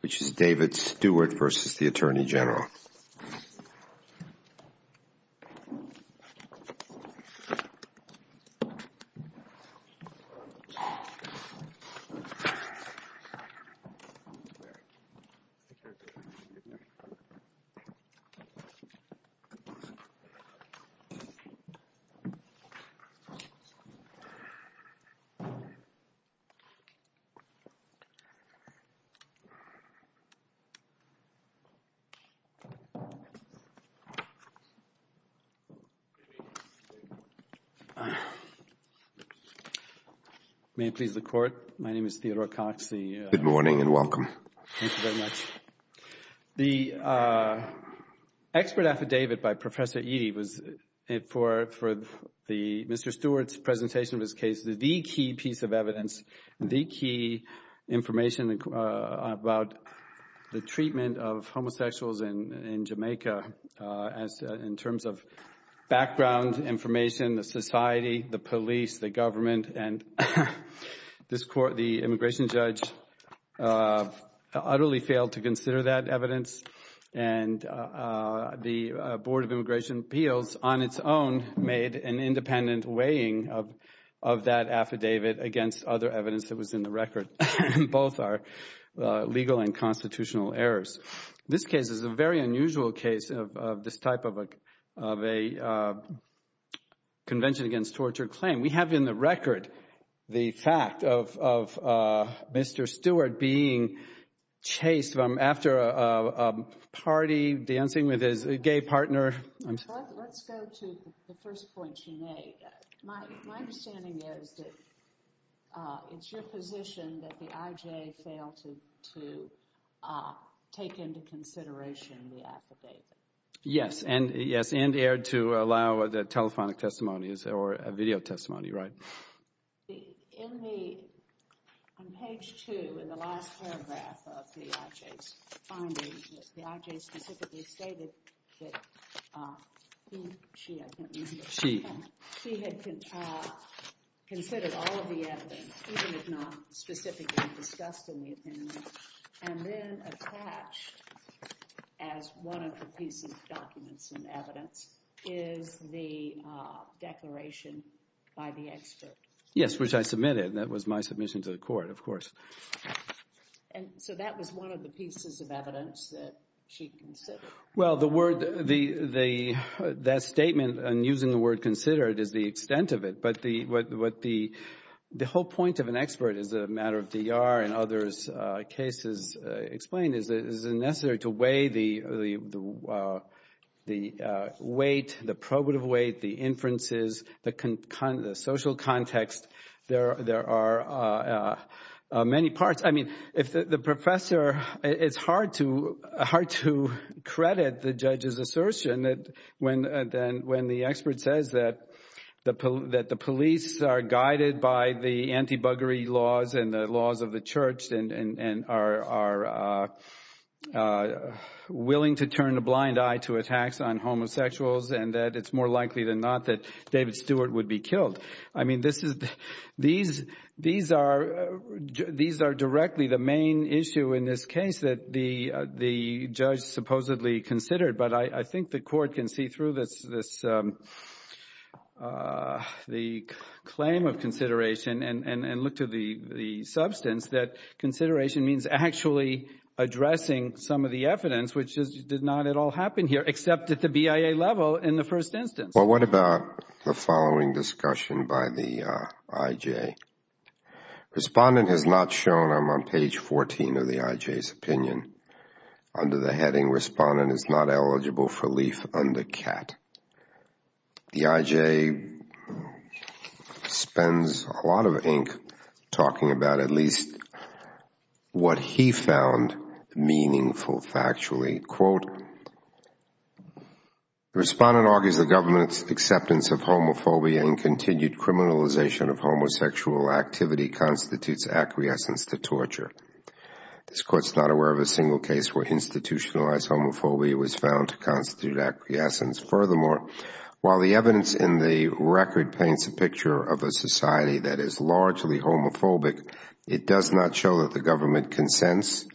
Which is David Stewart versus the Attorney General The expert affidavit by Professor Eadie was for Mr. Stewart's presentation of his case the key piece of evidence, the key information about the treatment of homosexuals in Jamaica in terms of background information, the society, the police, the government and this court, the immigration judge utterly failed to consider that evidence and the Board of Immigration had affidavit against other evidence that was in the record. Both are legal and constitutional errors. This case is a very unusual case of this type of a convention against torture claim. We have in the record the fact of Mr. Stewart being chased after a party, dancing with his gay partner. Let's go to the first point, Sinead. My understanding is that it's your position that the IJ failed to take into consideration the affidavit. Yes, and erred to allow the telephonic testimonies or video testimony, right? In page 2 in the last paragraph of the IJ's finding, the IJ specifically stated that the IJ had considered all of the evidence, even if not specifically discussed in the opinion and then attached as one of the pieces of documents and evidence is the declaration by the expert. Yes, which I submitted. That was my submission to the court, of course. And so that was one of the pieces of evidence that she considered. Well, that statement and using the word considered is the extent of it. But the whole point of an expert is a matter of DR and others' cases explained, is it necessary to weigh the weight, the probative weight, the inferences, the social context? There are many parts. I mean, the professor, it's hard to credit the judge's assertion when the expert says that the police are guided by the anti-buggery laws and the laws of the church and are willing to turn a blind eye to attacks on homosexuals and that it's more likely than not that David these are directly the main issue in this case that the judge supposedly considered. But I think the court can see through the claim of consideration and look to the substance that consideration means actually addressing some of the evidence, which did not at all happen here, except at the BIA level in the first instance. Well, what about the following discussion by the IJ? Respondent has not shown, I'm on page 14 of the IJ's opinion. Under the heading, Respondent is not eligible for relief under CAT. The IJ spends a lot of ink talking about at least what he found meaningful factually. Quote, respondent argues the government's acceptance of homophobia and continued criminalization of homosexual activity constitutes acquiescence to torture. This court is not aware of a single case where institutionalized homophobia was found to constitute acquiescence. Furthermore, while the evidence in the record paints a picture of a society that is largely homophobic, it does not show that the government consents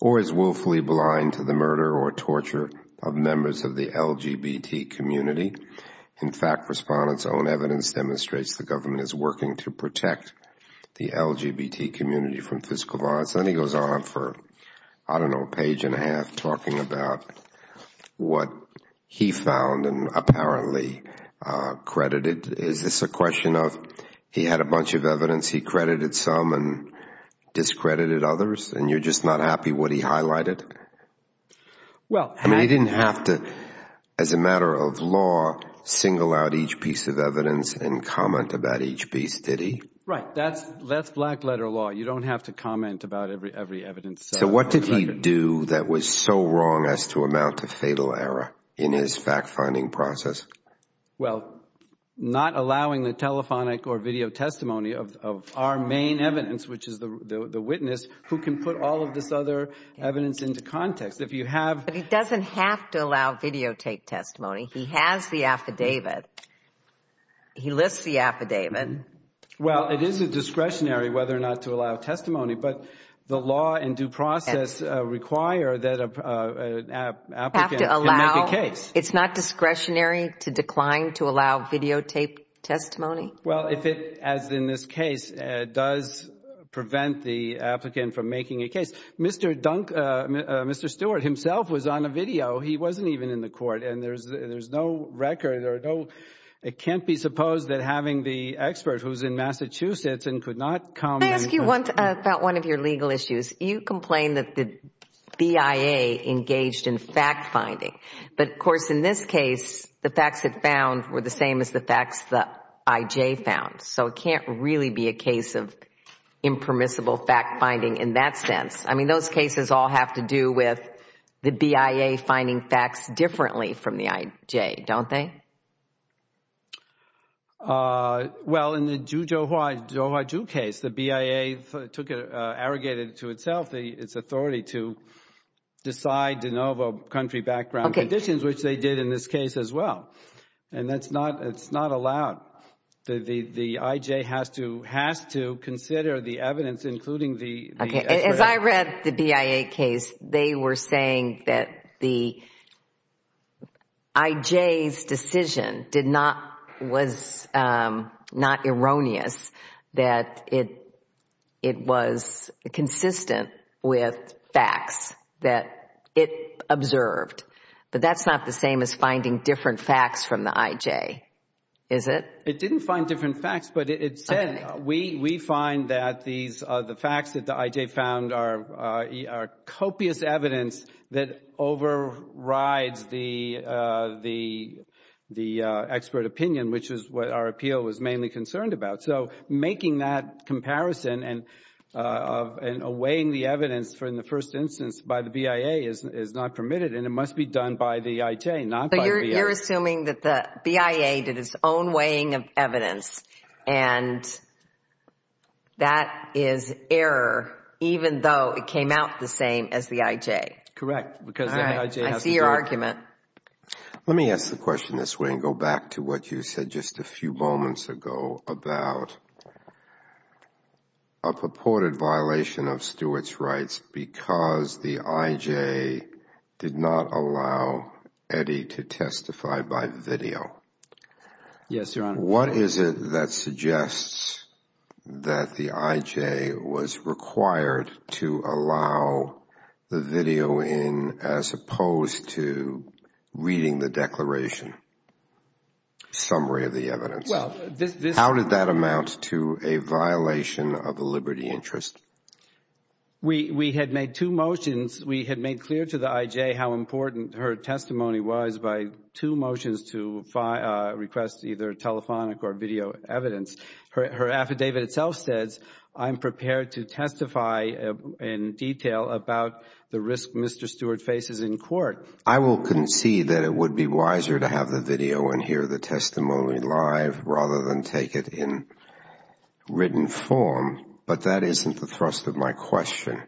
or is willfully blind to the murder or torture of members of the LGBT community. In fact, Respondent's own evidence demonstrates the government is working to protect the LGBT community from physical violence. And then he goes on for, I don't know, a page and a half talking about what he found and and discredited others and you're just not happy what he highlighted? I mean, he didn't have to, as a matter of law, single out each piece of evidence and comment about each piece, did he? Right. That's black letter law. You don't have to comment about every evidence. So what did he do that was so wrong as to amount to fatal error in his fact-finding process? Well, not allowing the telephonic or video testimony of our main evidence, which is the witness who can put all of this other evidence into context. If you have. But he doesn't have to allow videotape testimony. He has the affidavit. He lists the affidavit. Well, it is a discretionary whether or not to allow testimony, but the law and due process require that an applicant can make a case. It's not discretionary to decline to allow videotape testimony? Well, if it, as in this case, does prevent the applicant from making a case. Mr. Stewart himself was on a video. He wasn't even in the court and there's no record or no, it can't be supposed that having the expert who's in Massachusetts and could not come. Can I ask you about one of your legal issues? You complain that the BIA engaged in fact-finding, but of course, in this case, the facts it found were the same as the facts the IJ found. So, it can't really be a case of impermissible fact-finding in that sense. I mean, those cases all have to do with the BIA finding facts differently from the IJ, don't they? Well, in the Jujoha Ju case, the BIA took it, arrogated it to itself, its authority to decide de novo country background conditions, which they did in this case as well. And that's not, it's not allowed. The IJ has to, has to consider the evidence, including the As I read the BIA case, they were saying that the IJ's decision did not, was not erroneous, that it, it was consistent with facts that it observed. But that's not the same as finding different facts from the IJ, is it? It didn't find different facts, but it said, we, we find that these, the facts that the IJ found are, are copious evidence that overrides the, the, the expert opinion, which is what our appeal was mainly concerned about. So making that comparison and, of, and weighing the evidence for in the first instance by the BIA is, is not permitted and it must be done by the IJ, not by the BIA. You're assuming that the BIA did its own weighing of evidence and that is error, even though it came out the same as the IJ? Correct, because the IJ has to do it. Let me ask the question this way and go back to what you said just a few moments ago about a purported violation of Stewart's rights because the IJ did not allow Eddie to testify by video. Yes, Your Honor. What is it that suggests that the IJ was required to allow the video in as opposed to reading the declaration, summary of the evidence? How did that amount to a violation of the liberty interest? We, we had made two motions. We had made clear to the IJ how important her testimony was by two motions to request either telephonic or video evidence. Her affidavit itself says, I'm prepared to testify in detail about the risk Mr. Stewart faces in court. I will concede that it would be wiser to have the video and hear the testimony live rather than take it in written form, but that isn't the thrust of my question.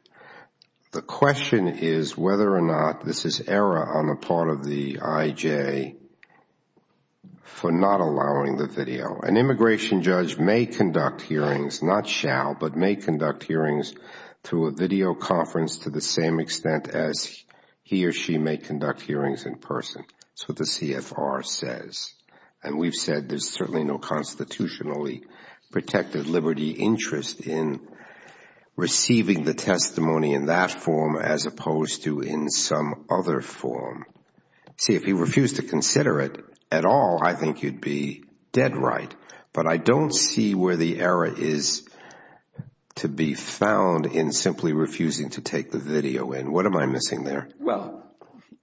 The question is whether or not this is error on the part of the IJ for not allowing the video. An immigration judge may conduct hearings, not shall, but may conduct hearings through a video conference to the same extent as he or she may conduct hearings in person. That's what the CFR says and we've said there's certainly no constitutionally protected liberty interest in receiving the testimony in that form as opposed to in some other form. See, if you refuse to consider it at all, I think you'd be dead right, but I don't see where the error is to be found in simply refusing to take the video in. What am I missing there? Well,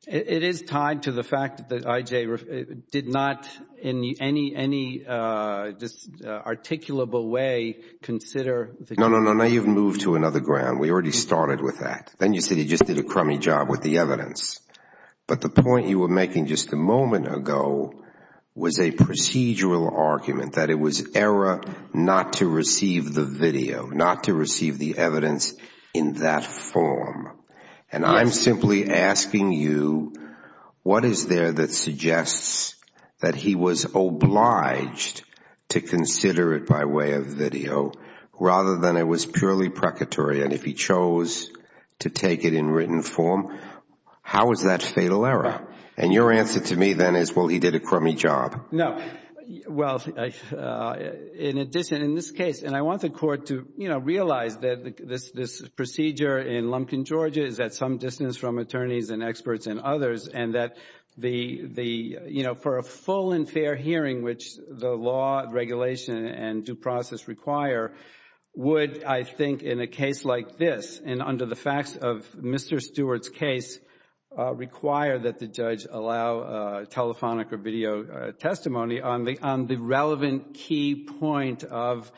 it is tied to the fact that IJ did not in any just articulable way consider. No, no, no. Now you've moved to another ground. We already started with that. Then you said he just did a crummy job with the evidence. But the point you were making just a moment ago was a procedural argument that it was error not to receive the video, not to receive the evidence in that form. And I'm simply asking you, what is there that suggests that he was obliged to consider it by way of video rather than it was purely precatory? And if he chose to take it in written form, how is that fatal error? And your answer to me then is, well, he did a crummy job. No. Well, in addition, in this case, and I want the court to realize that this procedure in Lumpkin, Georgia is at some distance from attorneys and experts and others, and that for a full and fair hearing, which the law, regulation, and due process require, would, I think, in a case like this and under the facts of Mr. Stewart's case, require that the judge allow telephonic or video testimony on the relevant key point of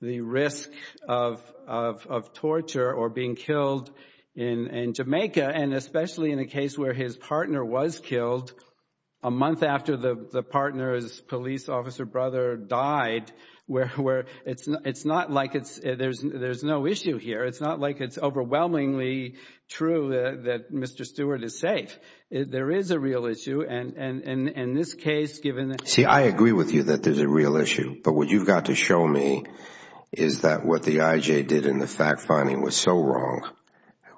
the risk of torture or being killed in Jamaica, and especially in a case where his partner was killed a month after the partner's police officer brother died, where it's not like there's no issue here. It's not like it's overwhelmingly true that Mr. Stewart is safe. There is a real issue, and in this case, given that... See, I agree with you that there's a real issue, but what you've got to show me is that what the IJ did in the fact finding was so wrong,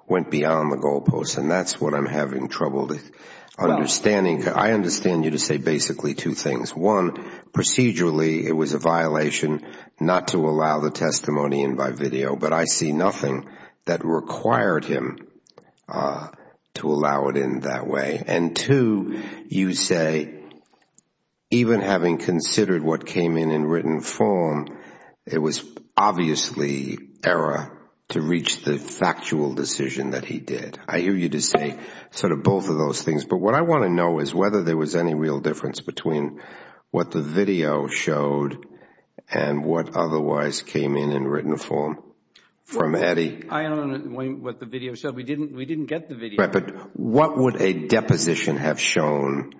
went beyond the goalposts, and that's what I'm having trouble understanding. I understand you to say basically two things. One, procedurally, it was a violation not to allow the testimony in by video, but I see nothing that required him to allow it in that way. And two, you say, even having considered what came in in written form, it was obviously error to reach the factual decision that he did. I hear you to say sort of both of those things, but what I want to know is whether there was any real difference between what the video showed and what otherwise came in in written form from Eddie. I don't know what the video showed. We didn't get the video. Right, but what would a deposition have shown,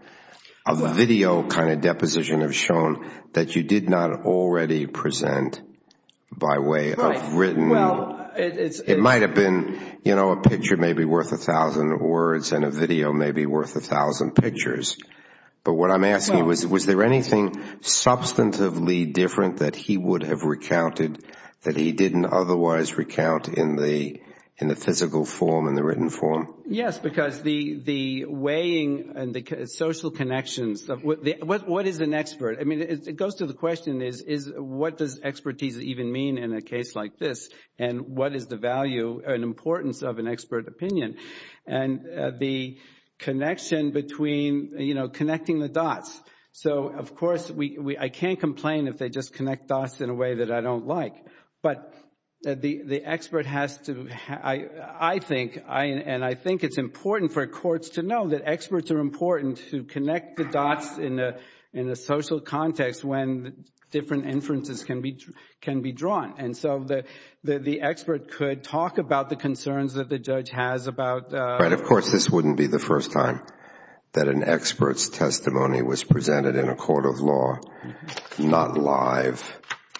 a video kind of deposition have shown, that you did not already present by way of written... It might have been a picture maybe worth a thousand words and a video maybe worth a thousand pictures, but what I'm asking was, was there anything substantively different that he would have recounted that he didn't otherwise recount in the physical form, in the written form? Yes, because the weighing and the social connections, what is an expert? I mean, it goes to the question, what does expertise even mean in a case like this, and what is the value and importance of an expert opinion? And the connection between, you know, connecting the dots. So, of course, I can't complain if they just connect dots in a way that I don't like, but the expert has to, I think, and I think it's important for courts to know that experts are important to connect the dots in a social context when different inferences can be drawn. And so the expert could talk about the concerns that the judge has about... Right. Of course, this wouldn't be the first time that an expert's testimony was presented in a court of law, not live,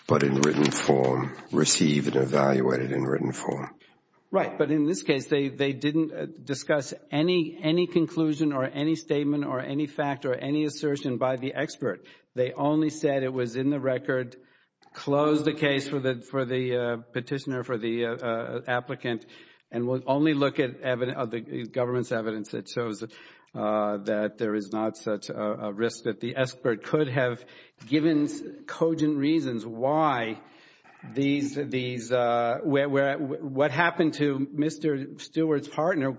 but in written form, received and evaluated in written form. Right. But in this case, they didn't discuss any conclusion or any statement or any fact or any assertion by the expert. They only said it was in the record, closed the case for the petitioner, for the applicant, and will only look at the government's evidence that shows that there is not such a risk that the expert could have given cogent reasons why what happened to Mr. Stewart's partner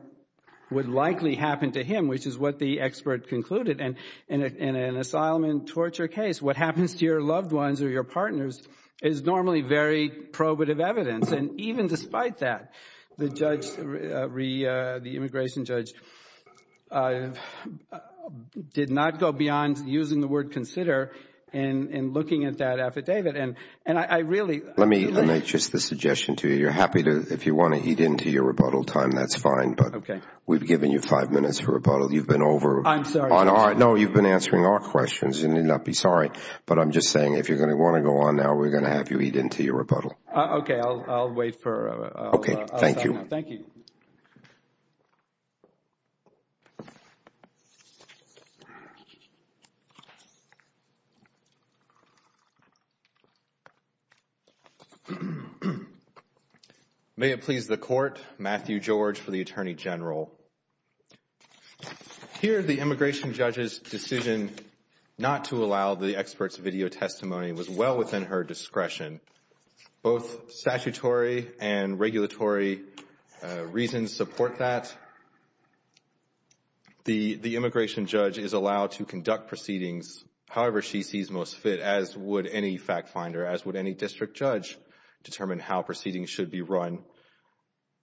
would likely happen to him, which is what the expert concluded. And in an asylum and torture case, what happens to your loved ones or your partners is normally very probative evidence. And even despite that, the immigration judge did not go beyond using the word consider and looking at that affidavit. And I really... Let me make just a suggestion to you. You're happy to, if you want to eat into your rebuttal time, that's fine. But we've given you five minutes for rebuttal. You've been over... No, you've been answering our questions. You need not be sorry. But I'm just saying, if you're going to want to go on now, we're going to have you eat into your rebuttal. Okay. I'll wait for... Okay. Thank you. Thank you. May it please the Court. Matthew George for the Attorney General. Here, the immigration judge's decision not to allow the expert's video testimony was well within her discretion. Both statutory and regulatory reasons support that. The immigration judge is allowed to conduct proceedings however she sees most fit, as would any fact finder, as would any district judge determine how proceedings should be run.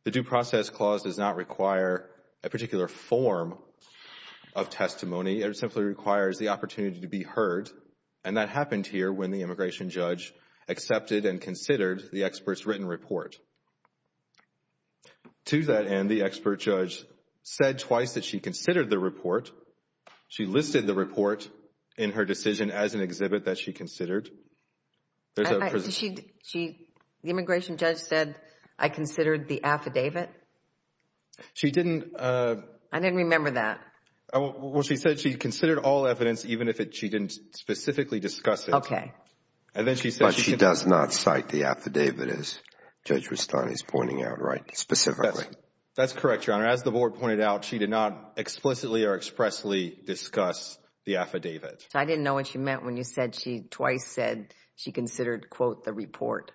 The Due Process Clause does not require a particular form of testimony. It simply requires the opportunity to be heard. And that happened here when the immigration judge accepted and considered the expert's written report. To that end, the expert judge said twice that she considered the report. She listed the report in her decision as an exhibit that she considered. The immigration judge said I considered the affidavit? She didn't... I didn't remember that. Well, she said she considered all evidence even if she didn't specifically discuss it. Okay. And then she said... But she does not cite the affidavit as Judge Rustani is pointing out, right? Specifically. That's correct, Your Honor. As the board pointed out, she did not explicitly or expressly discuss the affidavit. I didn't know what she meant when you said she twice said she considered, quote, the report.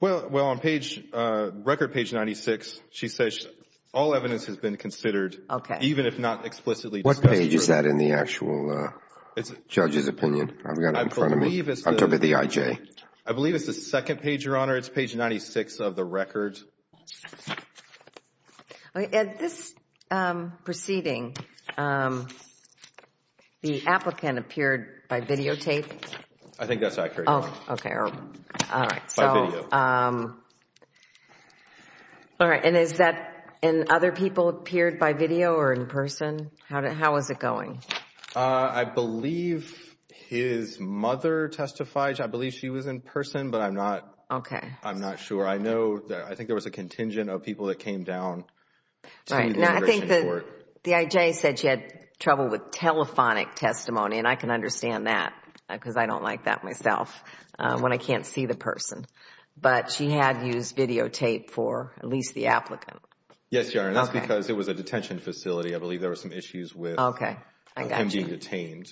Well, on page, record page 96, she says all evidence has been considered. Okay. Even if not explicitly discussed. What page is that in the actual judge's opinion? I've got it in front of me. I'm talking about the IJ. I believe it's the second page, Your Honor. It's page 96 of the record. Okay. At this proceeding, the applicant appeared by videotape? I think that's accurate. Oh, okay. All right. By video. All right. And is that in other people appeared by video or in person? How is it going? I believe his mother testified. I believe she was in person, but I'm not... Okay. I'm not sure. I think there was a contingent of people that came down to the immigration court. All right. Now, I think the IJ said she had trouble with telephonic testimony, and I can understand that because I don't like that myself when I can't see the person. But she had used videotape for at least the applicant. Yes, Your Honor. That's because it was a detention facility. I believe there were some issues with... Okay. I got you. ...him being detained.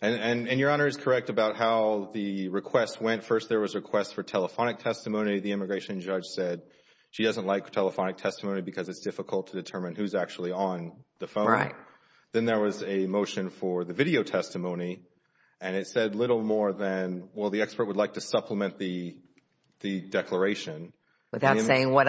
And Your Honor is correct about how the request went. First, there was a request for telephonic testimony. The immigration judge said she doesn't like telephonic testimony because it's difficult to determine who's actually on the phone. Then there was a motion for the video testimony, and it said little more than, well, the expert would like to supplement the declaration. Without saying what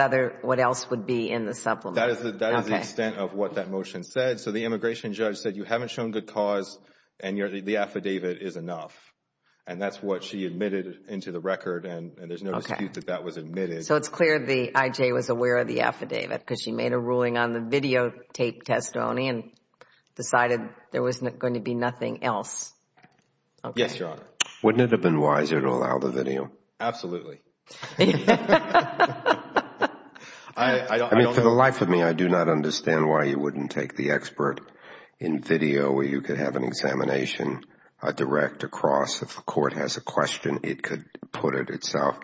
else would be in the supplement. That is the extent of what that motion said. So the immigration judge said, you haven't shown good cause and the affidavit is enough. And that's what she admitted into the record, and there's no dispute that that was admitted. So it's clear the IJ was aware of the affidavit because she made a ruling on the videotape testimony and decided there was going to be nothing else. Yes, Your Honor. Wouldn't it have been wiser to allow the video? Absolutely. I mean, for the life of me, I do not understand why you wouldn't take the expert in video where you could have an examination direct across. If the court has a question, it could put it itself.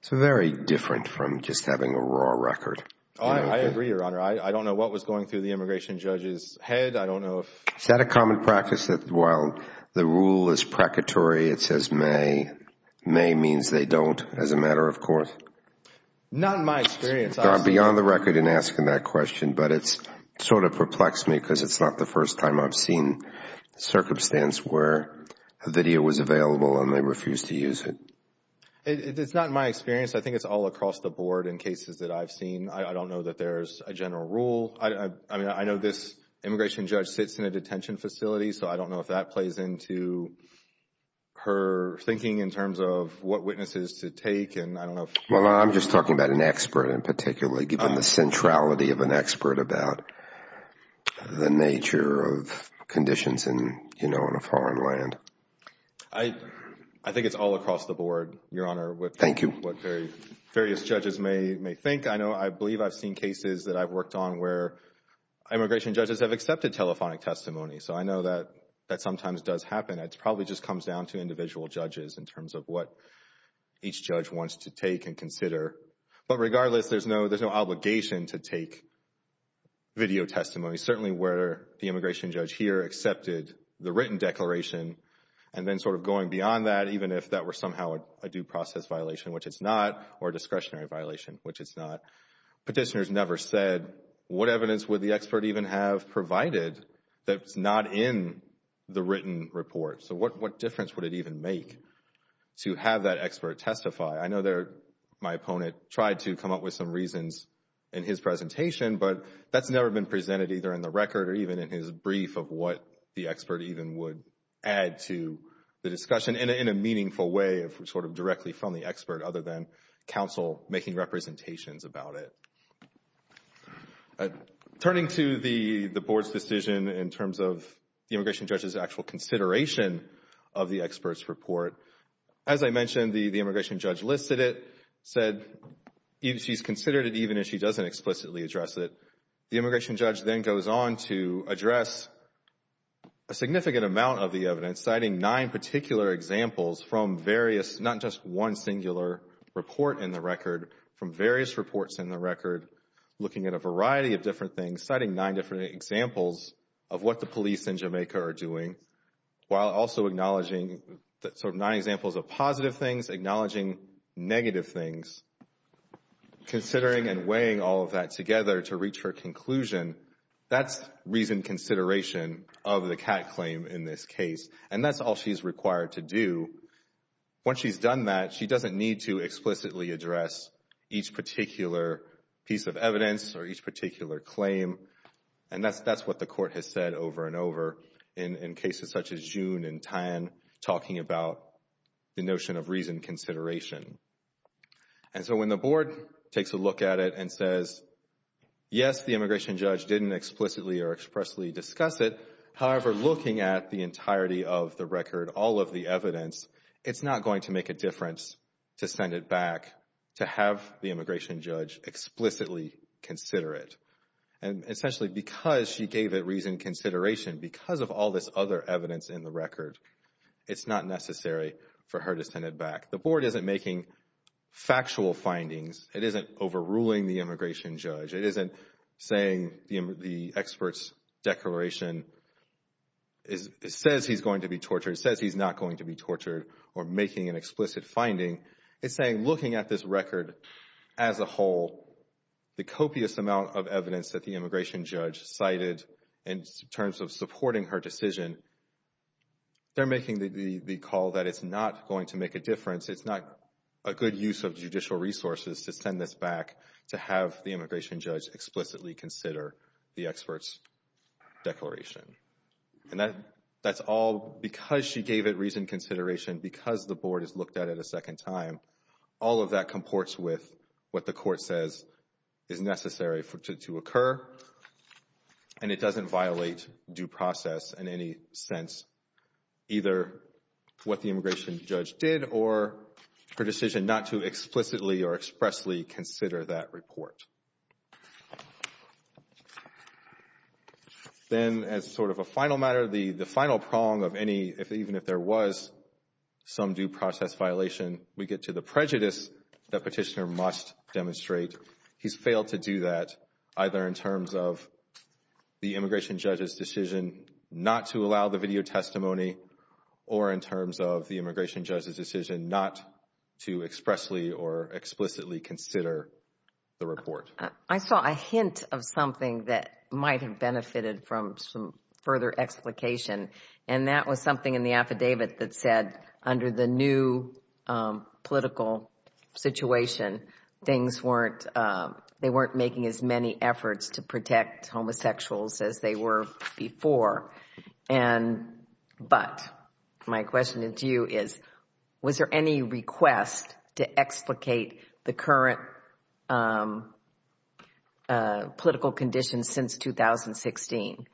It's very different from just having a raw record. I agree, Your Honor. I don't know what was going through the immigration judge's head. I don't know if... Is that a common practice that while the rule is precatory, it says may, may means they don't as a matter of course? Not in my experience. Beyond the record in asking that question, but it's sort of perplexed me because it's not the first time I've seen a circumstance where a video was available and they refused to use it. It's not in my experience. I think it's all across the board in cases that I've seen. I don't know that there's a general rule. I mean, I know this immigration judge sits in a detention facility, so I don't know if that plays into her thinking in terms of what witnesses to take, and I don't know if... I'm just talking about an expert in particular, given the centrality of an expert about the nature of conditions in a foreign land. I think it's all across the board, Your Honor, with what various judges may think. I know, I believe I've seen cases that I've worked on where immigration judges have accepted telephonic testimony, so I know that that sometimes does happen. It probably just comes down to individual judges in terms of what each judge wants to take and consider, but regardless, there's no obligation to take video testimony, certainly where the immigration judge here accepted the written declaration and then sort of going beyond that, even if that were somehow a due process violation, which it's not, or a discretionary violation, which it's not. Petitioners never said, what evidence would the expert even have provided that's not in the written report? So what difference would it even make to have that expert testify? I know my opponent tried to come up with some reasons in his presentation, but that's never been presented either in the record or even in his brief of what the expert even would add to the discussion in a meaningful way, sort of directly from the expert, other than counsel making representations about it. Turning to the board's decision in terms of the immigration judge's actual consideration of the expert's report, as I mentioned, the immigration judge listed it, said she's considered it even if she doesn't explicitly address it. The immigration judge then goes on to address a significant amount of the evidence, citing nine particular examples from various, not just one singular report in the record, from various reports in the record, looking at a variety of different things, citing nine different examples of what the police in Jamaica are doing, while also acknowledging sort of nine examples of positive things, acknowledging negative things, considering and weighing all of that together to reach her conclusion. That's reasoned consideration of the CAT claim in this case, and that's all she's required to do. Once she's done that, she doesn't need to explicitly address each particular piece of evidence or each particular claim, and that's what the court has said over and over in cases such as June and Tan, talking about the notion of reasoned consideration. And so, when the board takes a look at it and says, yes, the immigration judge didn't explicitly or expressly discuss it, however, looking at the entirety of the record, all of the evidence, it's not going to make a difference to send it back, to have the immigration judge explicitly consider it. And essentially, because she gave it reasoned consideration, because of all this other evidence in the record, it's not necessary for her to send it back. The board isn't making factual findings. It isn't overruling the immigration judge. It isn't saying the expert's declaration says he's going to be tortured, says he's not going to be tortured, or making an explicit finding. It's saying, looking at this record as a whole, the copious amount of evidence that the immigration judge cited in terms of supporting her decision, they're making the call that it's not going to make a difference. It's not a good use of judicial resources to send this back, to have the immigration judge explicitly consider the expert's declaration. And that's all because she gave it reasoned consideration, because the board has looked at it a second time. All of that comports with what the court says is necessary for it to occur, and it doesn't violate due process in any sense, either what the immigration judge did, or her decision not to explicitly or expressly consider that report. Then, as sort of a final matter, the final prong of any, even if there was, some due process violation, we get to the prejudice that Petitioner must demonstrate. He's failed to do that, either in terms of the immigration judge's decision not to allow the testimony, or in terms of the immigration judge's decision not to expressly or explicitly consider the report. I saw a hint of something that might have benefited from some further explication, and that was something in the affidavit that said, under the new political situation, they weren't making as many efforts to protect homosexuals as they were before. But my question to you is, was there any request to explicate the current political conditions since 2016?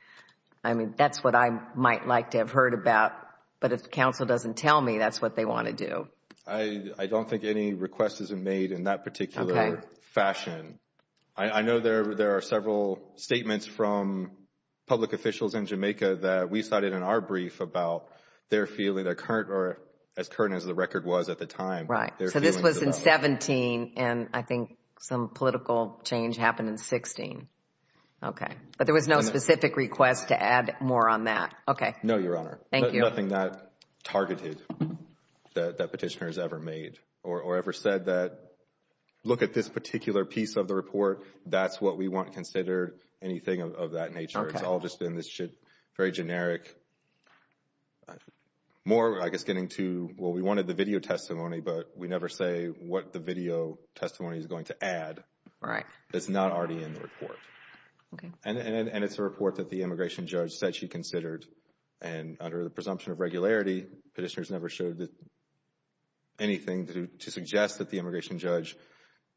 I mean, that's what I might like to have heard about, but if counsel doesn't tell me, that's what they want to do. I don't think any request is made in that particular fashion. I know there are several statements from public officials in Jamaica that we cited in our brief about their feeling, as current as the record was at the time. Right. So this was in 17, and I think some political change happened in 16. Okay. But there was no specific request to add more on that. Okay. No, Your Honor. Thank you. Nothing that targeted, that Petitioner has ever made, or ever said that, look at this particular piece of the report, that's what we want considered, anything of that nature. It's all just in this shit, very generic. More, I guess, getting to, well, we wanted the video testimony, but we never say what the video testimony is going to add. Right. It's not already in the report. Okay. And it's a report that the immigration judge said she considered, and under the presumption of regularity, Petitioner's never showed that, anything to suggest that the immigration judge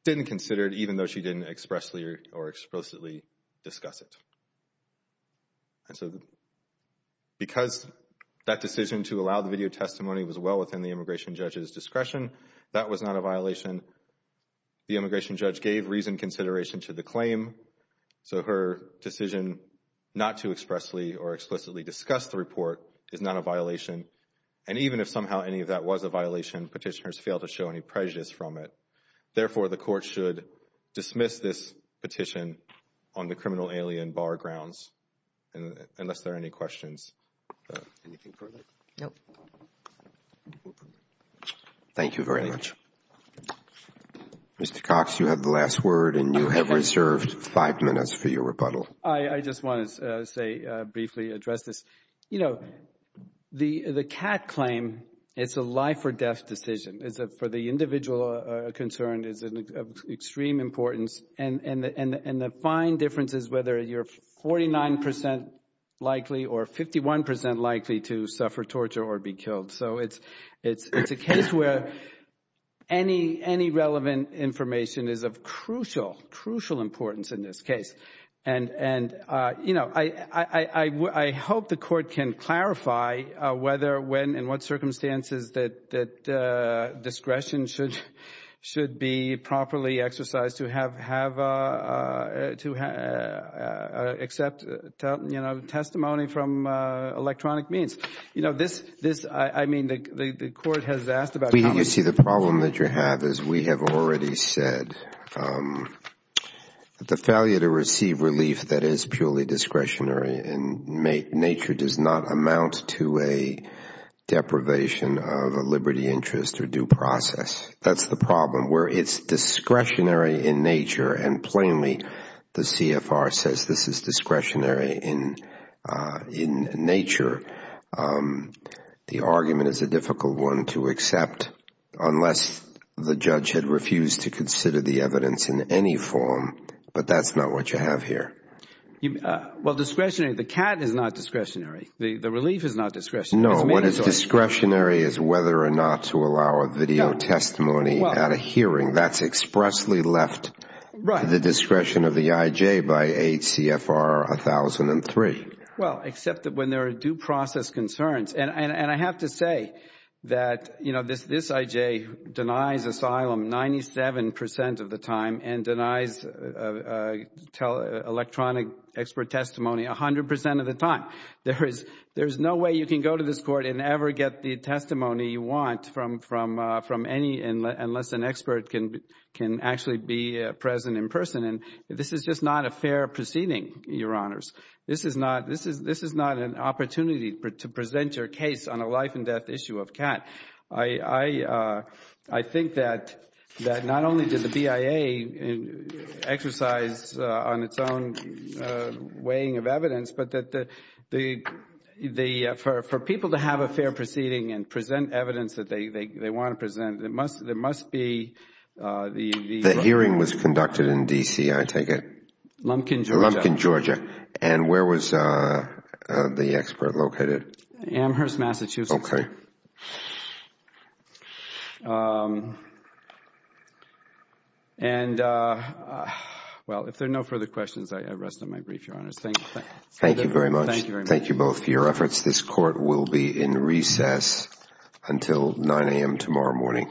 didn't consider it, even though she didn't expressly or explicitly discuss it. And so, because that decision to allow the video testimony was well within the immigration judge's discretion, that was not a violation. The immigration judge gave reasoned consideration to the claim, so her decision not to expressly or explicitly discuss the report is not a violation. And even if somehow any of that was a violation, Petitioner's failed to show any prejudice from it. Therefore, the court should dismiss this petition on the criminal alien bar grounds, unless there are any questions. Anything further? No. Thank you very much. Mr. Cox, you have the last word, and you have reserved five minutes for your rebuttal. I just want to say, briefly address this. You know, the CAT claim, it's a life or death decision, is for the individual concerned, is of extreme importance. And the fine difference is whether you're 49 percent likely or 51 percent likely to suffer torture or be killed. So it's a case where any relevant information is of crucial, crucial importance in this case. And, you know, I hope the court can clarify whether, when, and what circumstances that discretion should be properly exercised to have, to accept, you know, testimony from electronic means. You know, this, I mean, the court has asked about it. You see, the problem that you have is we have already said that the failure to receive relief that is purely discretionary in nature does not amount to a deprivation of a liberty interest or due process. That's the problem. Where it's discretionary in nature, and plainly, the CFR says this is discretionary in nature, the argument is a difficult one to accept unless the judge had refused to consider the evidence in any form. But that's not what you have here. Well, discretionary, the CAT is not discretionary. The relief is not discretionary. No, what is discretionary is whether or not to allow a video testimony at a hearing. That's expressly left to the discretion of the IJ by 8 CFR 1003. Well, except that when there are due process concerns, and I have to say that, you know, this IJ denies asylum 97 percent of the time and denies electronic expert testimony 100 percent of the time. There is no way you can go to this court and ever get the testimony you want from any, unless an expert can actually be present in person. And this is just not a fair proceeding, Your Honors. This is not an opportunity to present your case on a life and death issue of CAT. I think that not only did the BIA exercise on its own weighing of evidence, but that for people to have a fair proceeding and present evidence that they want to present, there must be The hearing was conducted in D.C., I take it. Lumpkin, Georgia. Lumpkin, Georgia. And where was the expert located? Amherst, Massachusetts. Okay. And well, if there are no further questions, I rest on my brief, Your Honors. Thank you very much. Thank you both for your efforts. This court will be in recess until 9 a.m. tomorrow morning. Thank you.